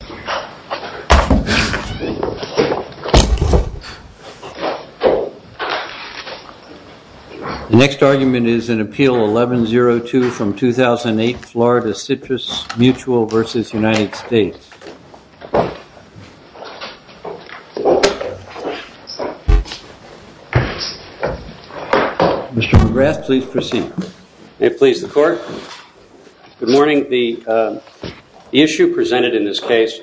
The next argument is an appeal 11-02 from 2008 Florida Citrus Mutual v. United States. Mr. McGrath, please proceed. May it please the court. Good morning. The issue presented in this case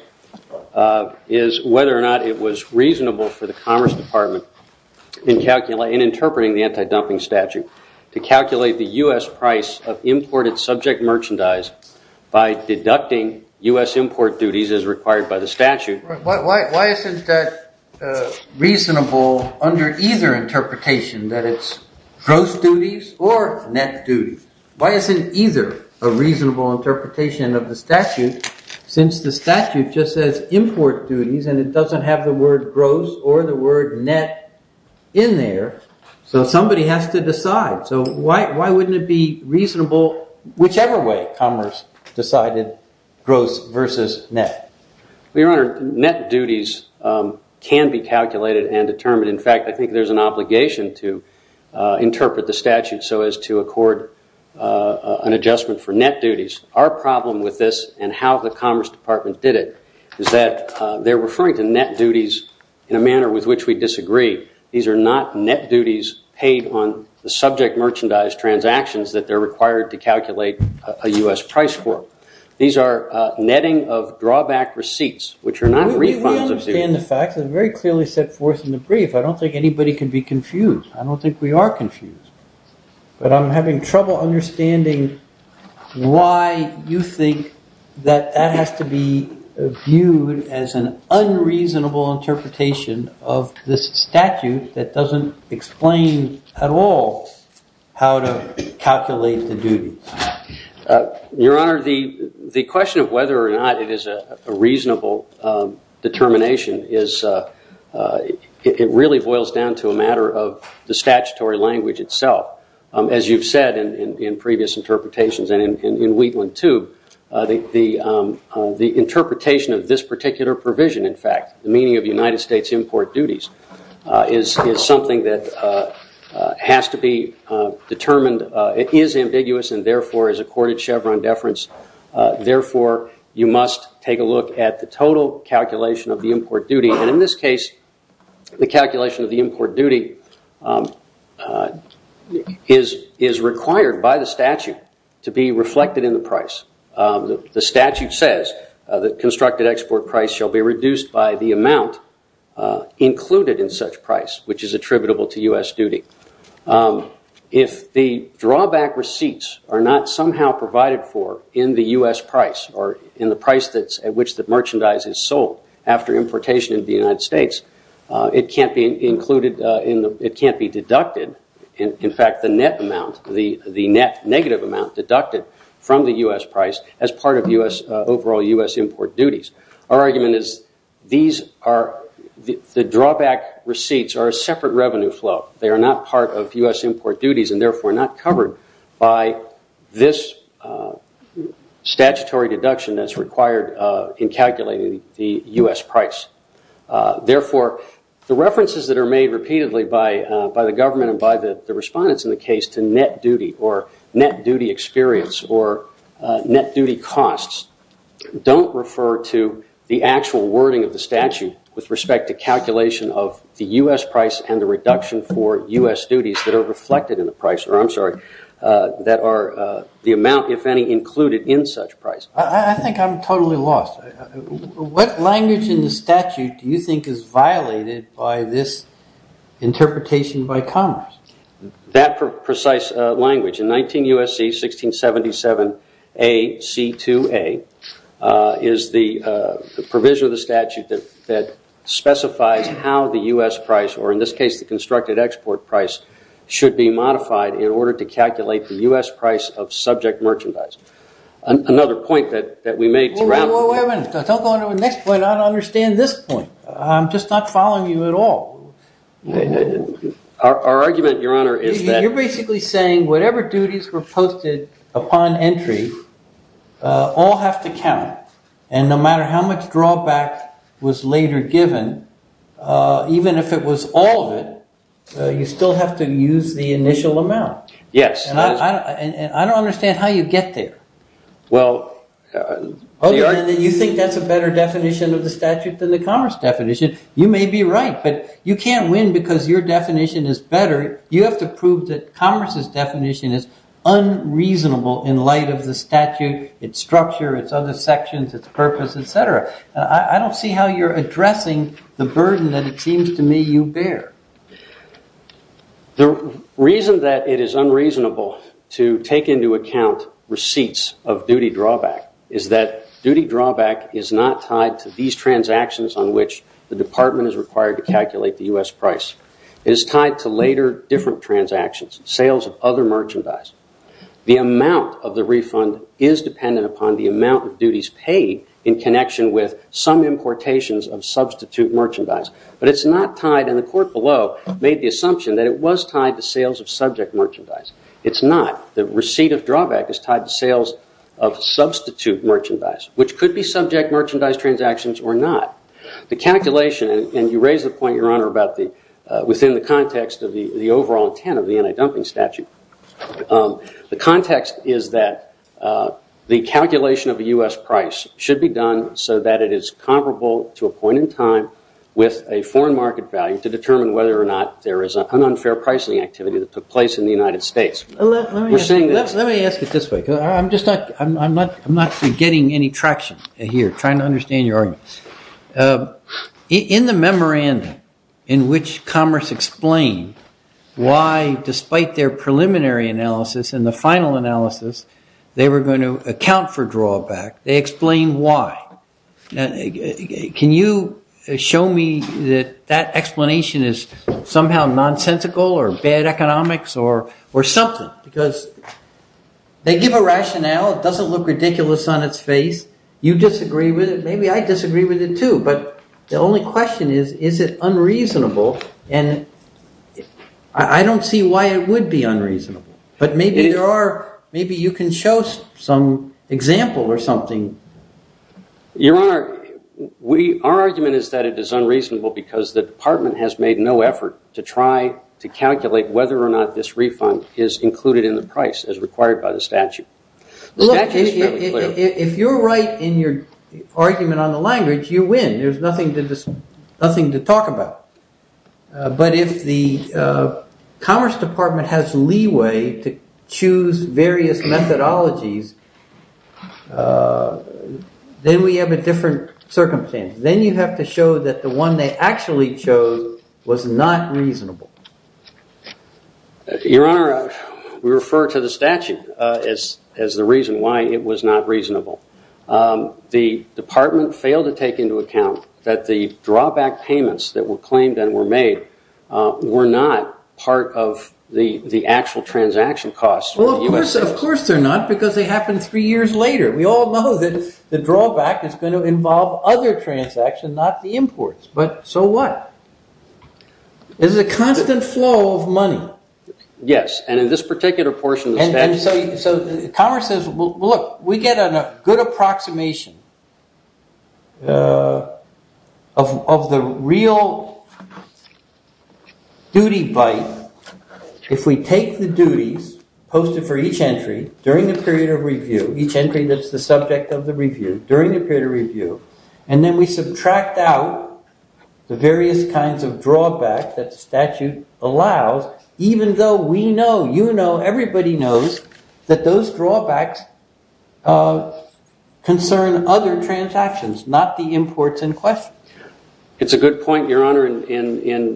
is whether or not it was reasonable for the Commerce Department in interpreting the anti-dumping statute to calculate the U.S. price of imported subject merchandise by deducting U.S. import duties as required by the statute. Why isn't that reasonable under either interpretation, that it's gross duties or net duties? Why isn't either a reasonable interpretation of the statute since the statute just says import duties and it doesn't have the word gross or the word net in there? So somebody has to decide. So why wouldn't it be reasonable whichever way Commerce decided gross versus net? Your Honor, net duties can be calculated and determined. In fact, I think there's an obligation to interpret the statute so as to accord an adjustment for net duties. Our problem with this and how the Commerce Department did it is that they're referring to net duties in a manner with which we disagree. These are not net duties paid on the subject merchandise transactions that they're required to calculate a U.S. price for. These are netting of drawback receipts, which are not refunds of duties. We understand the facts and very clearly set forth in the brief. I don't think anybody can be confused. I don't think we are confused. But I'm having trouble understanding why you think that that has to be viewed as an unreasonable interpretation of this statute that doesn't explain at all how to calculate the duties. Your Honor, the question of whether or not it is a reasonable determination, it really boils down to a matter of the statutory language itself. As you've said in previous interpretations and in Wheatland, too, the interpretation of this particular provision, in fact, the meaning of United States import duties is something that has to be determined. It is ambiguous and therefore is accorded Chevron deference. Therefore, you must take a look at the total calculation of the import duty. And in this case, the calculation of the import duty is required by the statute to be reflected in the price. The statute says that constructed export price shall be reduced by the amount included in such price, which is attributable to U.S. duty. If the drawback receipts are not somehow provided for in the U.S. price or in the price at which the merchandise is sold after importation into the United States, it can't be deducted. In fact, the net amount, the net negative amount deducted from the U.S. price as part of overall U.S. import duties. Our argument is the drawback receipts are a separate revenue flow. They are not part of U.S. import duties and therefore not covered by this statutory deduction that's required in calculating the U.S. price. Therefore, the references that are made repeatedly by the government and by the respondents in the case to net duty or net duty experience or net duty costs don't refer to the actual wording of the statute with respect to calculation of the U.S. price and the reduction for U.S. duties that are reflected in the price, or I'm sorry, that are the amount, if any, included in such price. I think I'm totally lost. What language in the statute do you think is violated by this interpretation by Congress? That precise language in 19 U.S.C. 1677 A.C. 2A is the provision of the statute that specifies how the U.S. price, or in this case the constructed export price, should be modified in order to calculate the U.S. price of subject merchandise. Another point that we made... Wait a minute. Don't go on to the next point. I don't understand this point. I'm just not following you at all. Our argument, Your Honor, is that... You're basically saying whatever duties were posted upon entry all have to count, and no matter how much drawback was later given, even if it was all of it, you still have to use the initial amount. Yes. And I don't understand how you get there. Well... You think that's a better definition of the statute than the Congress definition? You may be right, but you can't win because your definition is better. You have to prove that Congress' definition is unreasonable in light of the statute, its structure, its other sections, its purpose, etc. I don't see how you're addressing the burden that it seems to me you bear. The reason that it is unreasonable to take into account receipts of duty drawback is that duty drawback is not tied to these transactions on which the department is required to calculate the U.S. price. It is tied to later, different transactions, sales of other merchandise. The amount of the refund is dependent upon the amount of duties paid in connection with some importations of substitute merchandise. But it's not tied, and the court below made the assumption that it was tied to sales of subject merchandise. It's not. The receipt of drawback is tied to sales of substitute merchandise, which could be subject merchandise transactions or not. The calculation, and you raise the point, Your Honor, within the context of the overall intent of the anti-dumping statute, the context is that the calculation of the U.S. price should be done so that it is comparable to a point in time with a foreign market value to determine whether or not there is an unfair pricing activity that took place in the United States. Let me ask it this way, because I'm not getting any traction here, trying to understand your argument. In the memorandum in which Commerce explained why, despite their preliminary analysis and the final analysis, they were going to account for drawback, they explained why. Can you show me that that explanation is somehow nonsensical or bad economics or something? Because they give a rationale, it doesn't look ridiculous on its face. You disagree with it, maybe I disagree with it too, but the only question is, is it unreasonable? And I don't see why it would be unreasonable. But maybe you can show some example or something. Your Honor, our argument is that it is unreasonable because the Department has made no effort to try to calculate whether or not this refund is included in the price as required by the statute. If you're right in your argument on the language, you win. There's nothing to talk about. But if the Commerce Department has leeway to choose various methodologies, then we have a different circumstance. Then you have to show that the one they actually chose was not reasonable. Your Honor, we refer to the statute as the reason why it was not reasonable. The Department failed to take into account that the drawback payments that were claimed and were made were not part of the actual transaction costs. Well, of course they're not, because they happened three years later. We all know that the drawback is going to involve other transactions, not the imports. But so what? There's a constant flow of money. Yes, and in this particular portion of the statute... Commerce says, look, we get a good approximation of the real duty bite if we take the duties posted for each entry during the period of review, each entry that's the subject of the review, during the period of review, and then we subtract out the various kinds of drawback that the statute allows, even though we know, you know, everybody knows, that those drawbacks concern other transactions, not the imports in question. It's a good point, Your Honor, in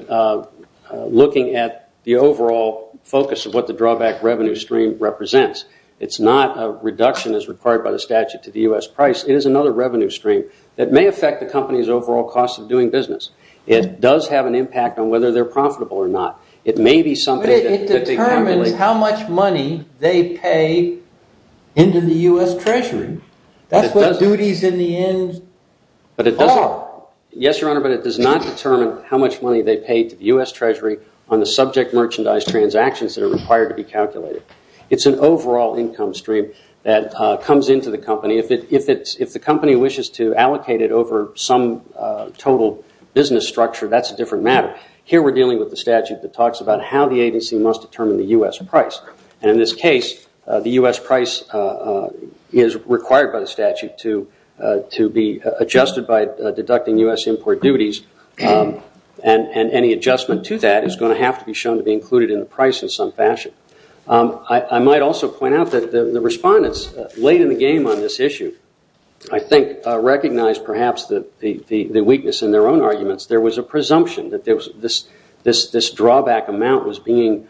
looking at the overall focus of what the drawback revenue stream represents. It's not a reduction as required by the statute to the U.S. price. It is another revenue stream that may affect the company's overall cost of doing business. It does have an impact on whether they're profitable or not. It may be something that... But it determines how much money they pay into the U.S. Treasury. That's what duties in the end are. Yes, Your Honor, but it does not determine how much money they pay to the U.S. Treasury on the subject merchandise transactions that are required to be calculated. It's an overall income stream that comes into the company. If the company wishes to allocate it over some total business structure, that's a different matter. Here we're dealing with the statute that talks about how the agency must determine the U.S. price. And in this case, the U.S. price is required by the statute to be adjusted by deducting U.S. import duties. And any adjustment to that is going to have to be shown to be included in the price in some fashion. I might also point out that the respondents late in the game on this issue, I think, recognized perhaps the weakness in their own arguments. There was a presumption that this drawback amount was being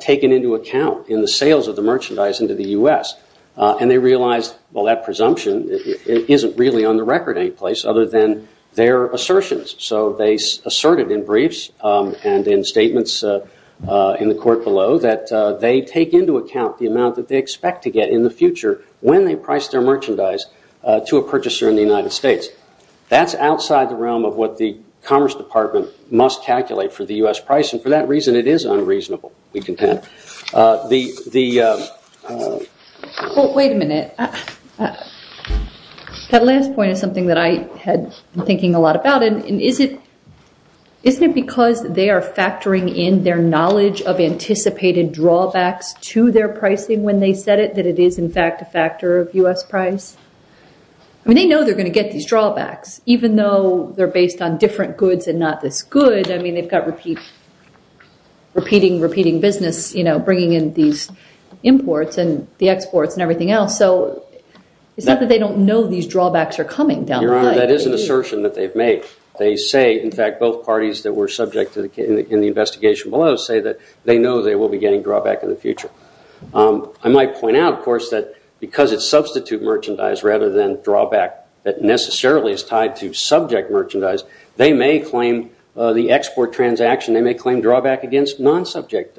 taken into account in the sales of the merchandise into the U.S. And they realized, well, that presumption isn't really on the record any place other than their assertions. So they asserted in briefs and in statements in the court below that they take into account the amount that they expect to get in the future when they price their merchandise to a purchaser in the United States. That's outside the realm of what the Commerce Department must calculate for the U.S. price. And for that reason, it is unreasonable, we contend. Wait a minute. That last point is something that I had been thinking a lot about. Isn't it because they are factoring in their knowledge of anticipated drawbacks to their pricing when they set it that it is, in fact, a factor of U.S. price? I mean, they know they're going to get these drawbacks, even though they're based on different goods and not this good. I mean, they've got repeating, repeating business, you know, bringing in these imports and the exports and everything else. So it's not that they don't know these drawbacks are coming down the line. Your Honor, that is an assertion that they've made. They say, in fact, both parties that were subject in the investigation below say that they know they will be getting drawback in the future. I might point out, of course, that because it's substitute merchandise rather than drawback that necessarily is tied to subject merchandise, they may claim the export transaction, they may claim drawback against non-subject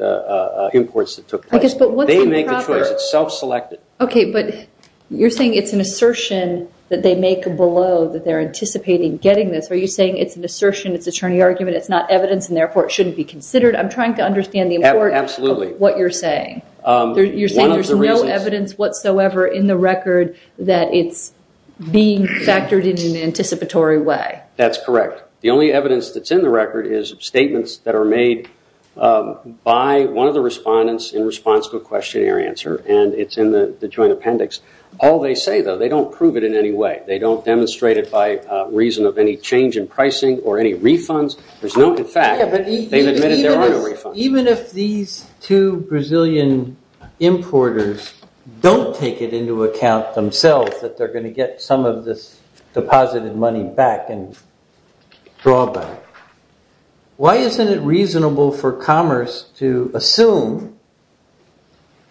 imports that took place. They make the choice, it's self-selected. Okay, but you're saying it's an assertion that they make below that they're anticipating getting this. Are you saying it's an assertion, it's an attorney argument, it's not evidence and therefore it shouldn't be considered? I'm trying to understand the importance of what you're saying. You're saying there's no evidence whatsoever in the record that it's being factored in in an anticipatory way. That's correct. The only evidence that's in the record is statements that are made by one of the respondents in response to a questionnaire answer and it's in the joint appendix. All they say, though, they don't prove it in any way. They don't demonstrate it by reason of any change in pricing or any refunds. In fact, they've admitted there are no refunds. Even if these two Brazilian importers don't take it into account themselves, that they're going to get some of this deposited money back and drawback, why isn't it reasonable for commerce to assume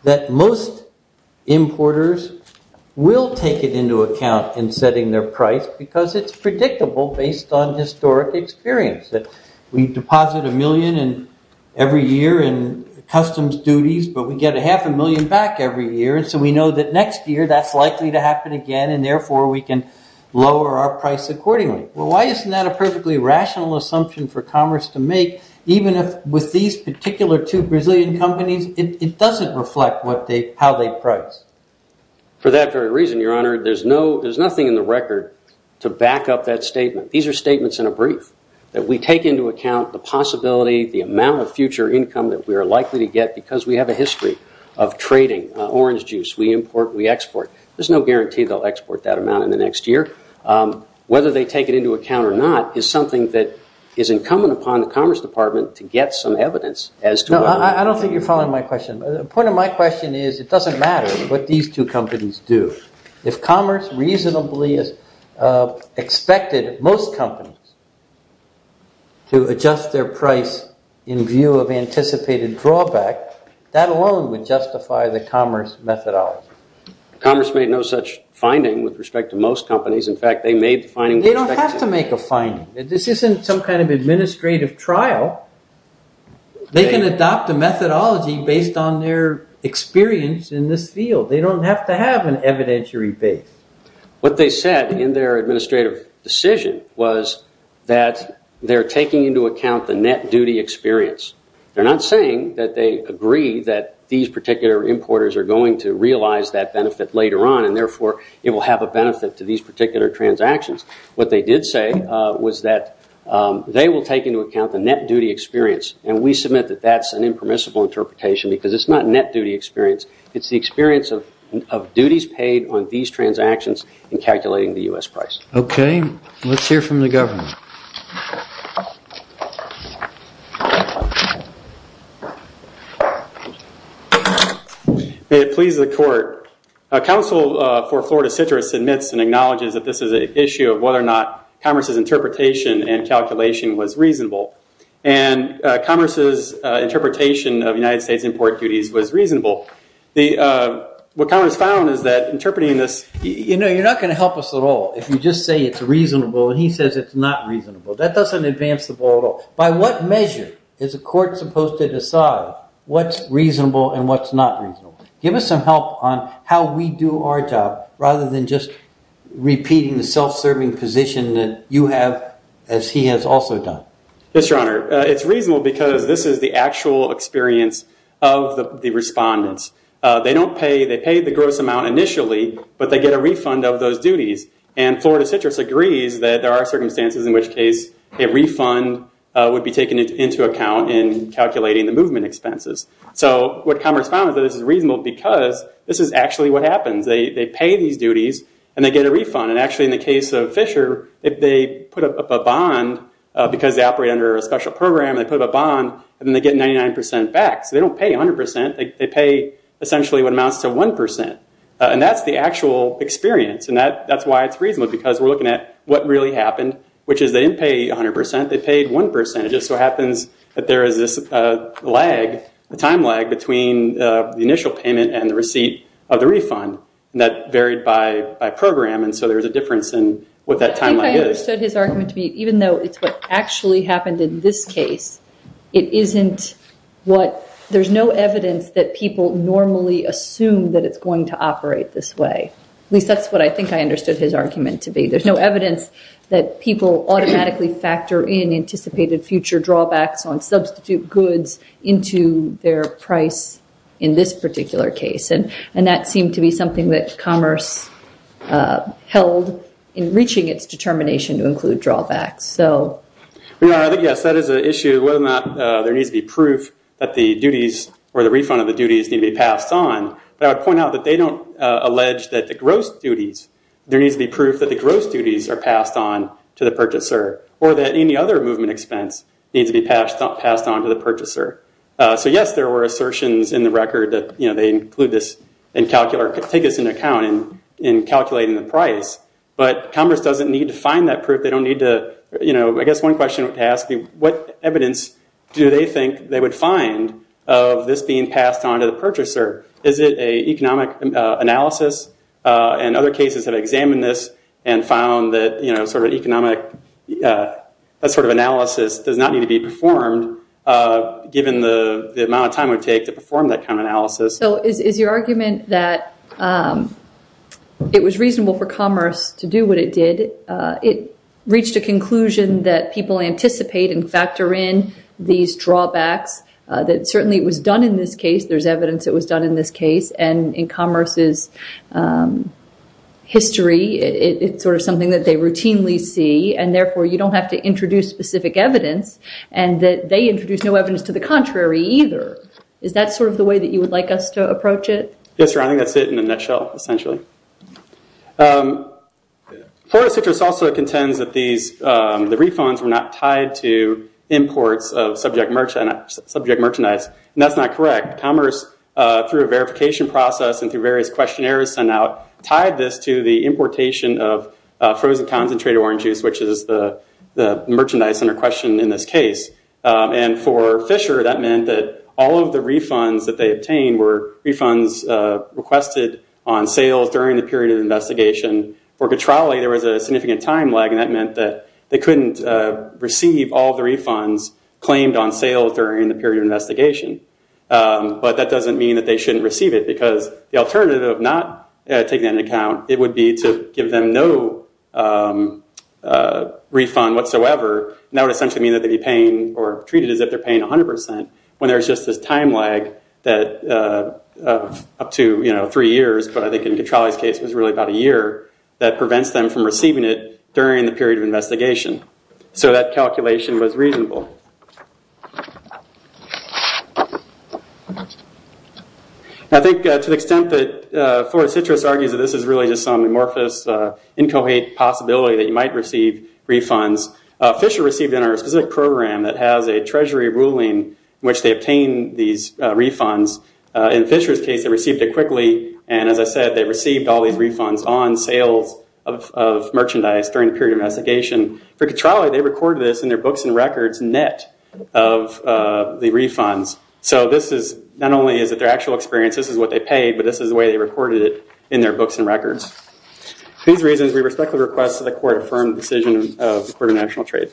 that most importers will take it into account in setting their price because it's predictable based on historic experience. We deposit a million every year in customs duties, but we get a half a million back every year and so we know that next year that's likely to happen again and therefore we can lower our price accordingly. Why isn't that a perfectly rational assumption for commerce to make, even if with these particular two Brazilian companies, it doesn't reflect how they price? For that very reason, Your Honor, there's nothing in the record to back up that statement. These are statements in a brief that we take into account the possibility, the amount of future income that we are likely to get because we have a history of trading. Orange juice, we import, we export. There's no guarantee they'll export that amount in the next year. Whether they take it into account or not is something that is incumbent upon the Commerce Department to get some evidence. I don't think you're following my question. The point of my question is it doesn't matter what these two companies do. If commerce reasonably expected most companies to adjust their price in view of anticipated drawback, that alone would justify the commerce methodology. Commerce made no such finding with respect to most companies. In fact, they made the finding... They don't have to make a finding. This isn't some kind of administrative trial. They can adopt a methodology based on their experience in this field. They don't have to have an evidentiary base. What they said in their administrative decision was that they're taking into account the net duty experience. They're not saying that they agree that these particular importers are going to realize that benefit later on, and therefore it will have a benefit to these particular transactions. What they did say was that they will take into account the net duty experience. We submit that that's an impermissible interpretation because it's not net duty experience. It's the experience of duties paid on these transactions in calculating the U.S. price. Okay. Let's hear from the government. May it please the court. Council for Florida Citrus admits and acknowledges that this is an issue of whether or not commerce's interpretation and calculation was reasonable, and commerce's interpretation of United States import duties was reasonable. What commerce found is that interpreting this... You know, you're not going to help us at all if you just say it's reasonable, and he says it's not reasonable. That doesn't advance the ball at all. By what measure is a court supposed to decide what's reasonable and what's not reasonable? Give us some help on how we do our job rather than just repeating the self-serving position that you have, as he has also done. Yes, Your Honor. It's reasonable because this is the actual experience of the respondents. They don't pay. They pay the gross amount initially, but they get a refund of those duties. And Florida Citrus agrees that there are circumstances in which case a refund would be taken into account in calculating the movement expenses. So what commerce found is that this is reasonable because this is actually what happens. They pay these duties, and they get a refund. And actually, in the case of Fisher, if they put up a bond, because they operate under a special program, they put up a bond, and then they get 99% back. So they don't pay 100%. They pay essentially what amounts to 1%. And that's the actual experience, and that's why it's reasonable, because we're looking at what really happened, which is they didn't pay 100%. They paid 1%. It just so happens that there is this lag, a time lag between the initial payment and the receipt of the refund. And that varied by program, and so there's a difference in what that time lag is. I think I understood his argument to be, even though it's what actually happened in this case, it isn't what... There's no evidence that people normally assume that it's going to operate this way. At least, that's what I think I understood his argument to be. There's no evidence that people automatically factor in anticipated future drawbacks on substitute goods into their price in this particular case. And that seemed to be something that commerce held in reaching its determination to include drawbacks. I think, yes, that is an issue, whether or not there needs to be proof that the duties or the refund of the duties need to be passed on. But I would point out that they don't allege that the gross duties... There needs to be proof that the gross duties are passed on to the purchaser, or that any other movement expense needs to be passed on to the purchaser. So, yes, there were assertions in the record that they include this and take this into account in calculating the price, but commerce doesn't need to find that proof. I guess one question to ask, what evidence do they think they would find of this being passed on to the purchaser? Is it an economic analysis? And other cases have examined this and found that sort of economic analysis does not need to be performed, given the amount of time it would take to perform that kind of analysis. So, is your argument that it was reasonable for commerce to do what it did, that it reached a conclusion that people anticipate and factor in these drawbacks, that certainly it was done in this case, there's evidence it was done in this case, and in commerce's history, it's sort of something that they routinely see, and therefore you don't have to introduce specific evidence, and that they introduced no evidence to the contrary either. Is that sort of the way that you would like us to approach it? Yes, sir, I think that's it in a nutshell, essentially. Forrest Fisher also contends that the refunds were not tied to imports of subject merchandise, and that's not correct. Commerce, through a verification process and through various questionnaires sent out, tied this to the importation of frozen concentrated orange juice, which is the merchandise under question in this case. And for Fisher, that meant that all of the refunds that they obtained were refunds requested on sales during the period of investigation. For Cattralli, there was a significant time lag, and that meant that they couldn't receive all the refunds claimed on sale during the period of investigation. But that doesn't mean that they shouldn't receive it, because the alternative of not taking that into account, it would be to give them no refund whatsoever, and that would essentially mean that they'd be paying, or treated as if they're paying 100%, when there's just this time lag that up to three years, but I think in Cattralli's case it was really about a year, that prevents them from receiving it during the period of investigation. So that calculation was reasonable. I think to the extent that Forrest Citrus argues that this is really just some amorphous, inchoate possibility that you might receive refunds, Fisher received in our specific program that has a treasury ruling in which they obtain these refunds. In Fisher's case, they received it quickly, and as I said, they received all these refunds on sales of merchandise during the period of investigation. For Cattralli, they recorded this in their books and records, net, of the refunds. So this is, not only is it their actual experience, this is what they paid, but this is the way they recorded it in their books and records. For these reasons, we respectfully request that the court affirm the decision of the Court of National Trade.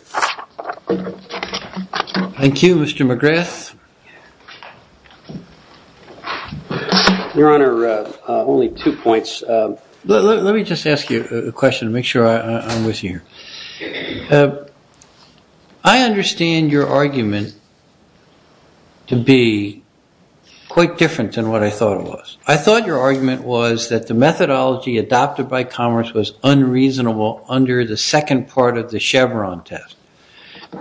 Thank you, Mr. McGrath. Your Honor, only two points. Let me just ask you a question to make sure I'm with you. I understand your argument to be quite different than what I thought it was. I thought your argument was that the methodology adopted by Commerce was unreasonable under the second part of the Chevron test.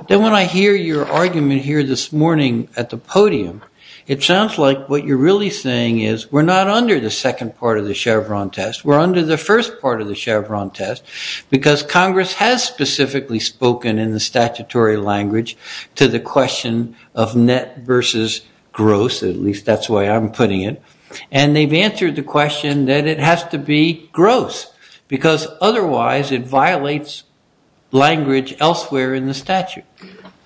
Then when I hear your argument here this morning, at the podium, it sounds like what you're really saying is we're not under the second part of the Chevron test, we're under the first part of the Chevron test, because Congress has specifically spoken in the statutory language to the question of net versus gross, at least that's the way I'm putting it, and they've answered the question that it has to be gross, because otherwise it violates language elsewhere in the statute.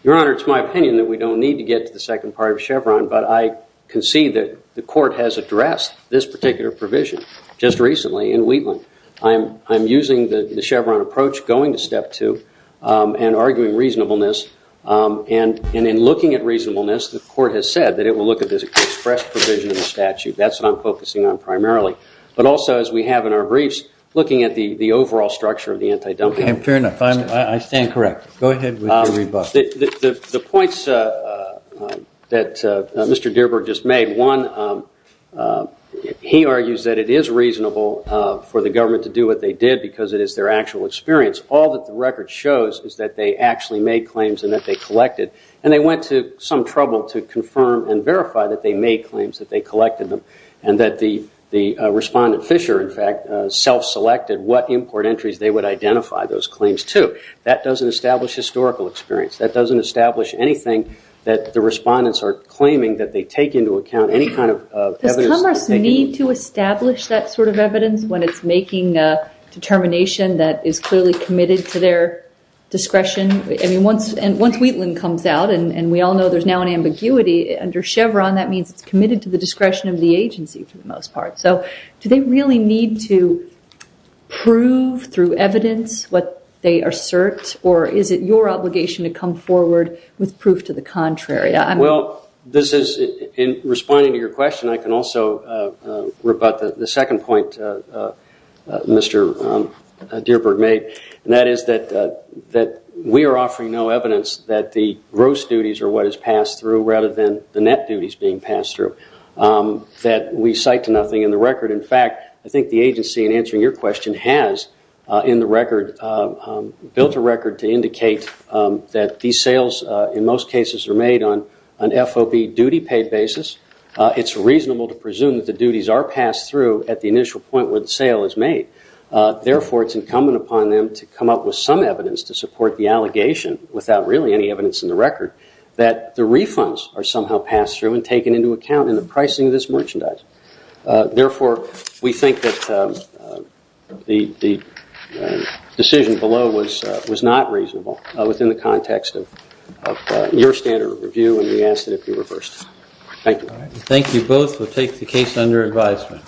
Your Honor, it's my opinion that we don't need to get to the second part of Chevron, but I concede that the Court has addressed this particular provision just recently in Wheatland. I'm using the Chevron approach, going to step two, and arguing reasonableness, and in looking at reasonableness, the Court has said that it will look at this express provision in the statute. That's what I'm focusing on primarily. But also, as we have in our briefs, looking at the overall structure of the antidumping. Fair enough. I stand correct. Go ahead with your rebuttal. The points that Mr. Dearborn just made, one, he argues that it is reasonable for the government to do what they did, because it is their actual experience. All that the record shows is that they actually made claims and that they collected, and they went to some trouble to confirm and verify that they made claims, that they collected them, and that the respondent, Fisher, in fact, self-selected what import entries they would identify those claims to. That doesn't establish historical experience. That doesn't establish anything that the respondents are claiming that they take into account any kind of evidence. Does Commerce need to establish that sort of evidence when it's making determination that is clearly committed to their discretion? Once Wheatland comes out, and we all know there's now an ambiguity, under Chevron that means it's committed to the discretion of the agency for the most part. Do they really need to prove through evidence what they assert, or is it your obligation to come forward with proof to the contrary? Well, this is in responding to your question, I can also rebut the second point Mr. Dearborn made, and that is that we are offering no evidence that the gross duties are what is passed through rather than the net duties being passed through that we cite to the record. In fact, I think the agency in answering your question has built a record to indicate that these sales in most cases are made on an FOB duty paid basis. It's reasonable to presume that the duties are passed through at the initial point when the sale is made. Therefore, it's incumbent upon them to come up with some evidence to support the allegation without really any evidence in the record that the refunds are somehow passed through and taken into account in the pricing of this merchandise. Therefore, we think that the decision below was not reasonable within the context of your standard of review, and we ask that it be reversed. Thank you. Thank you both. We'll take the case under advisement.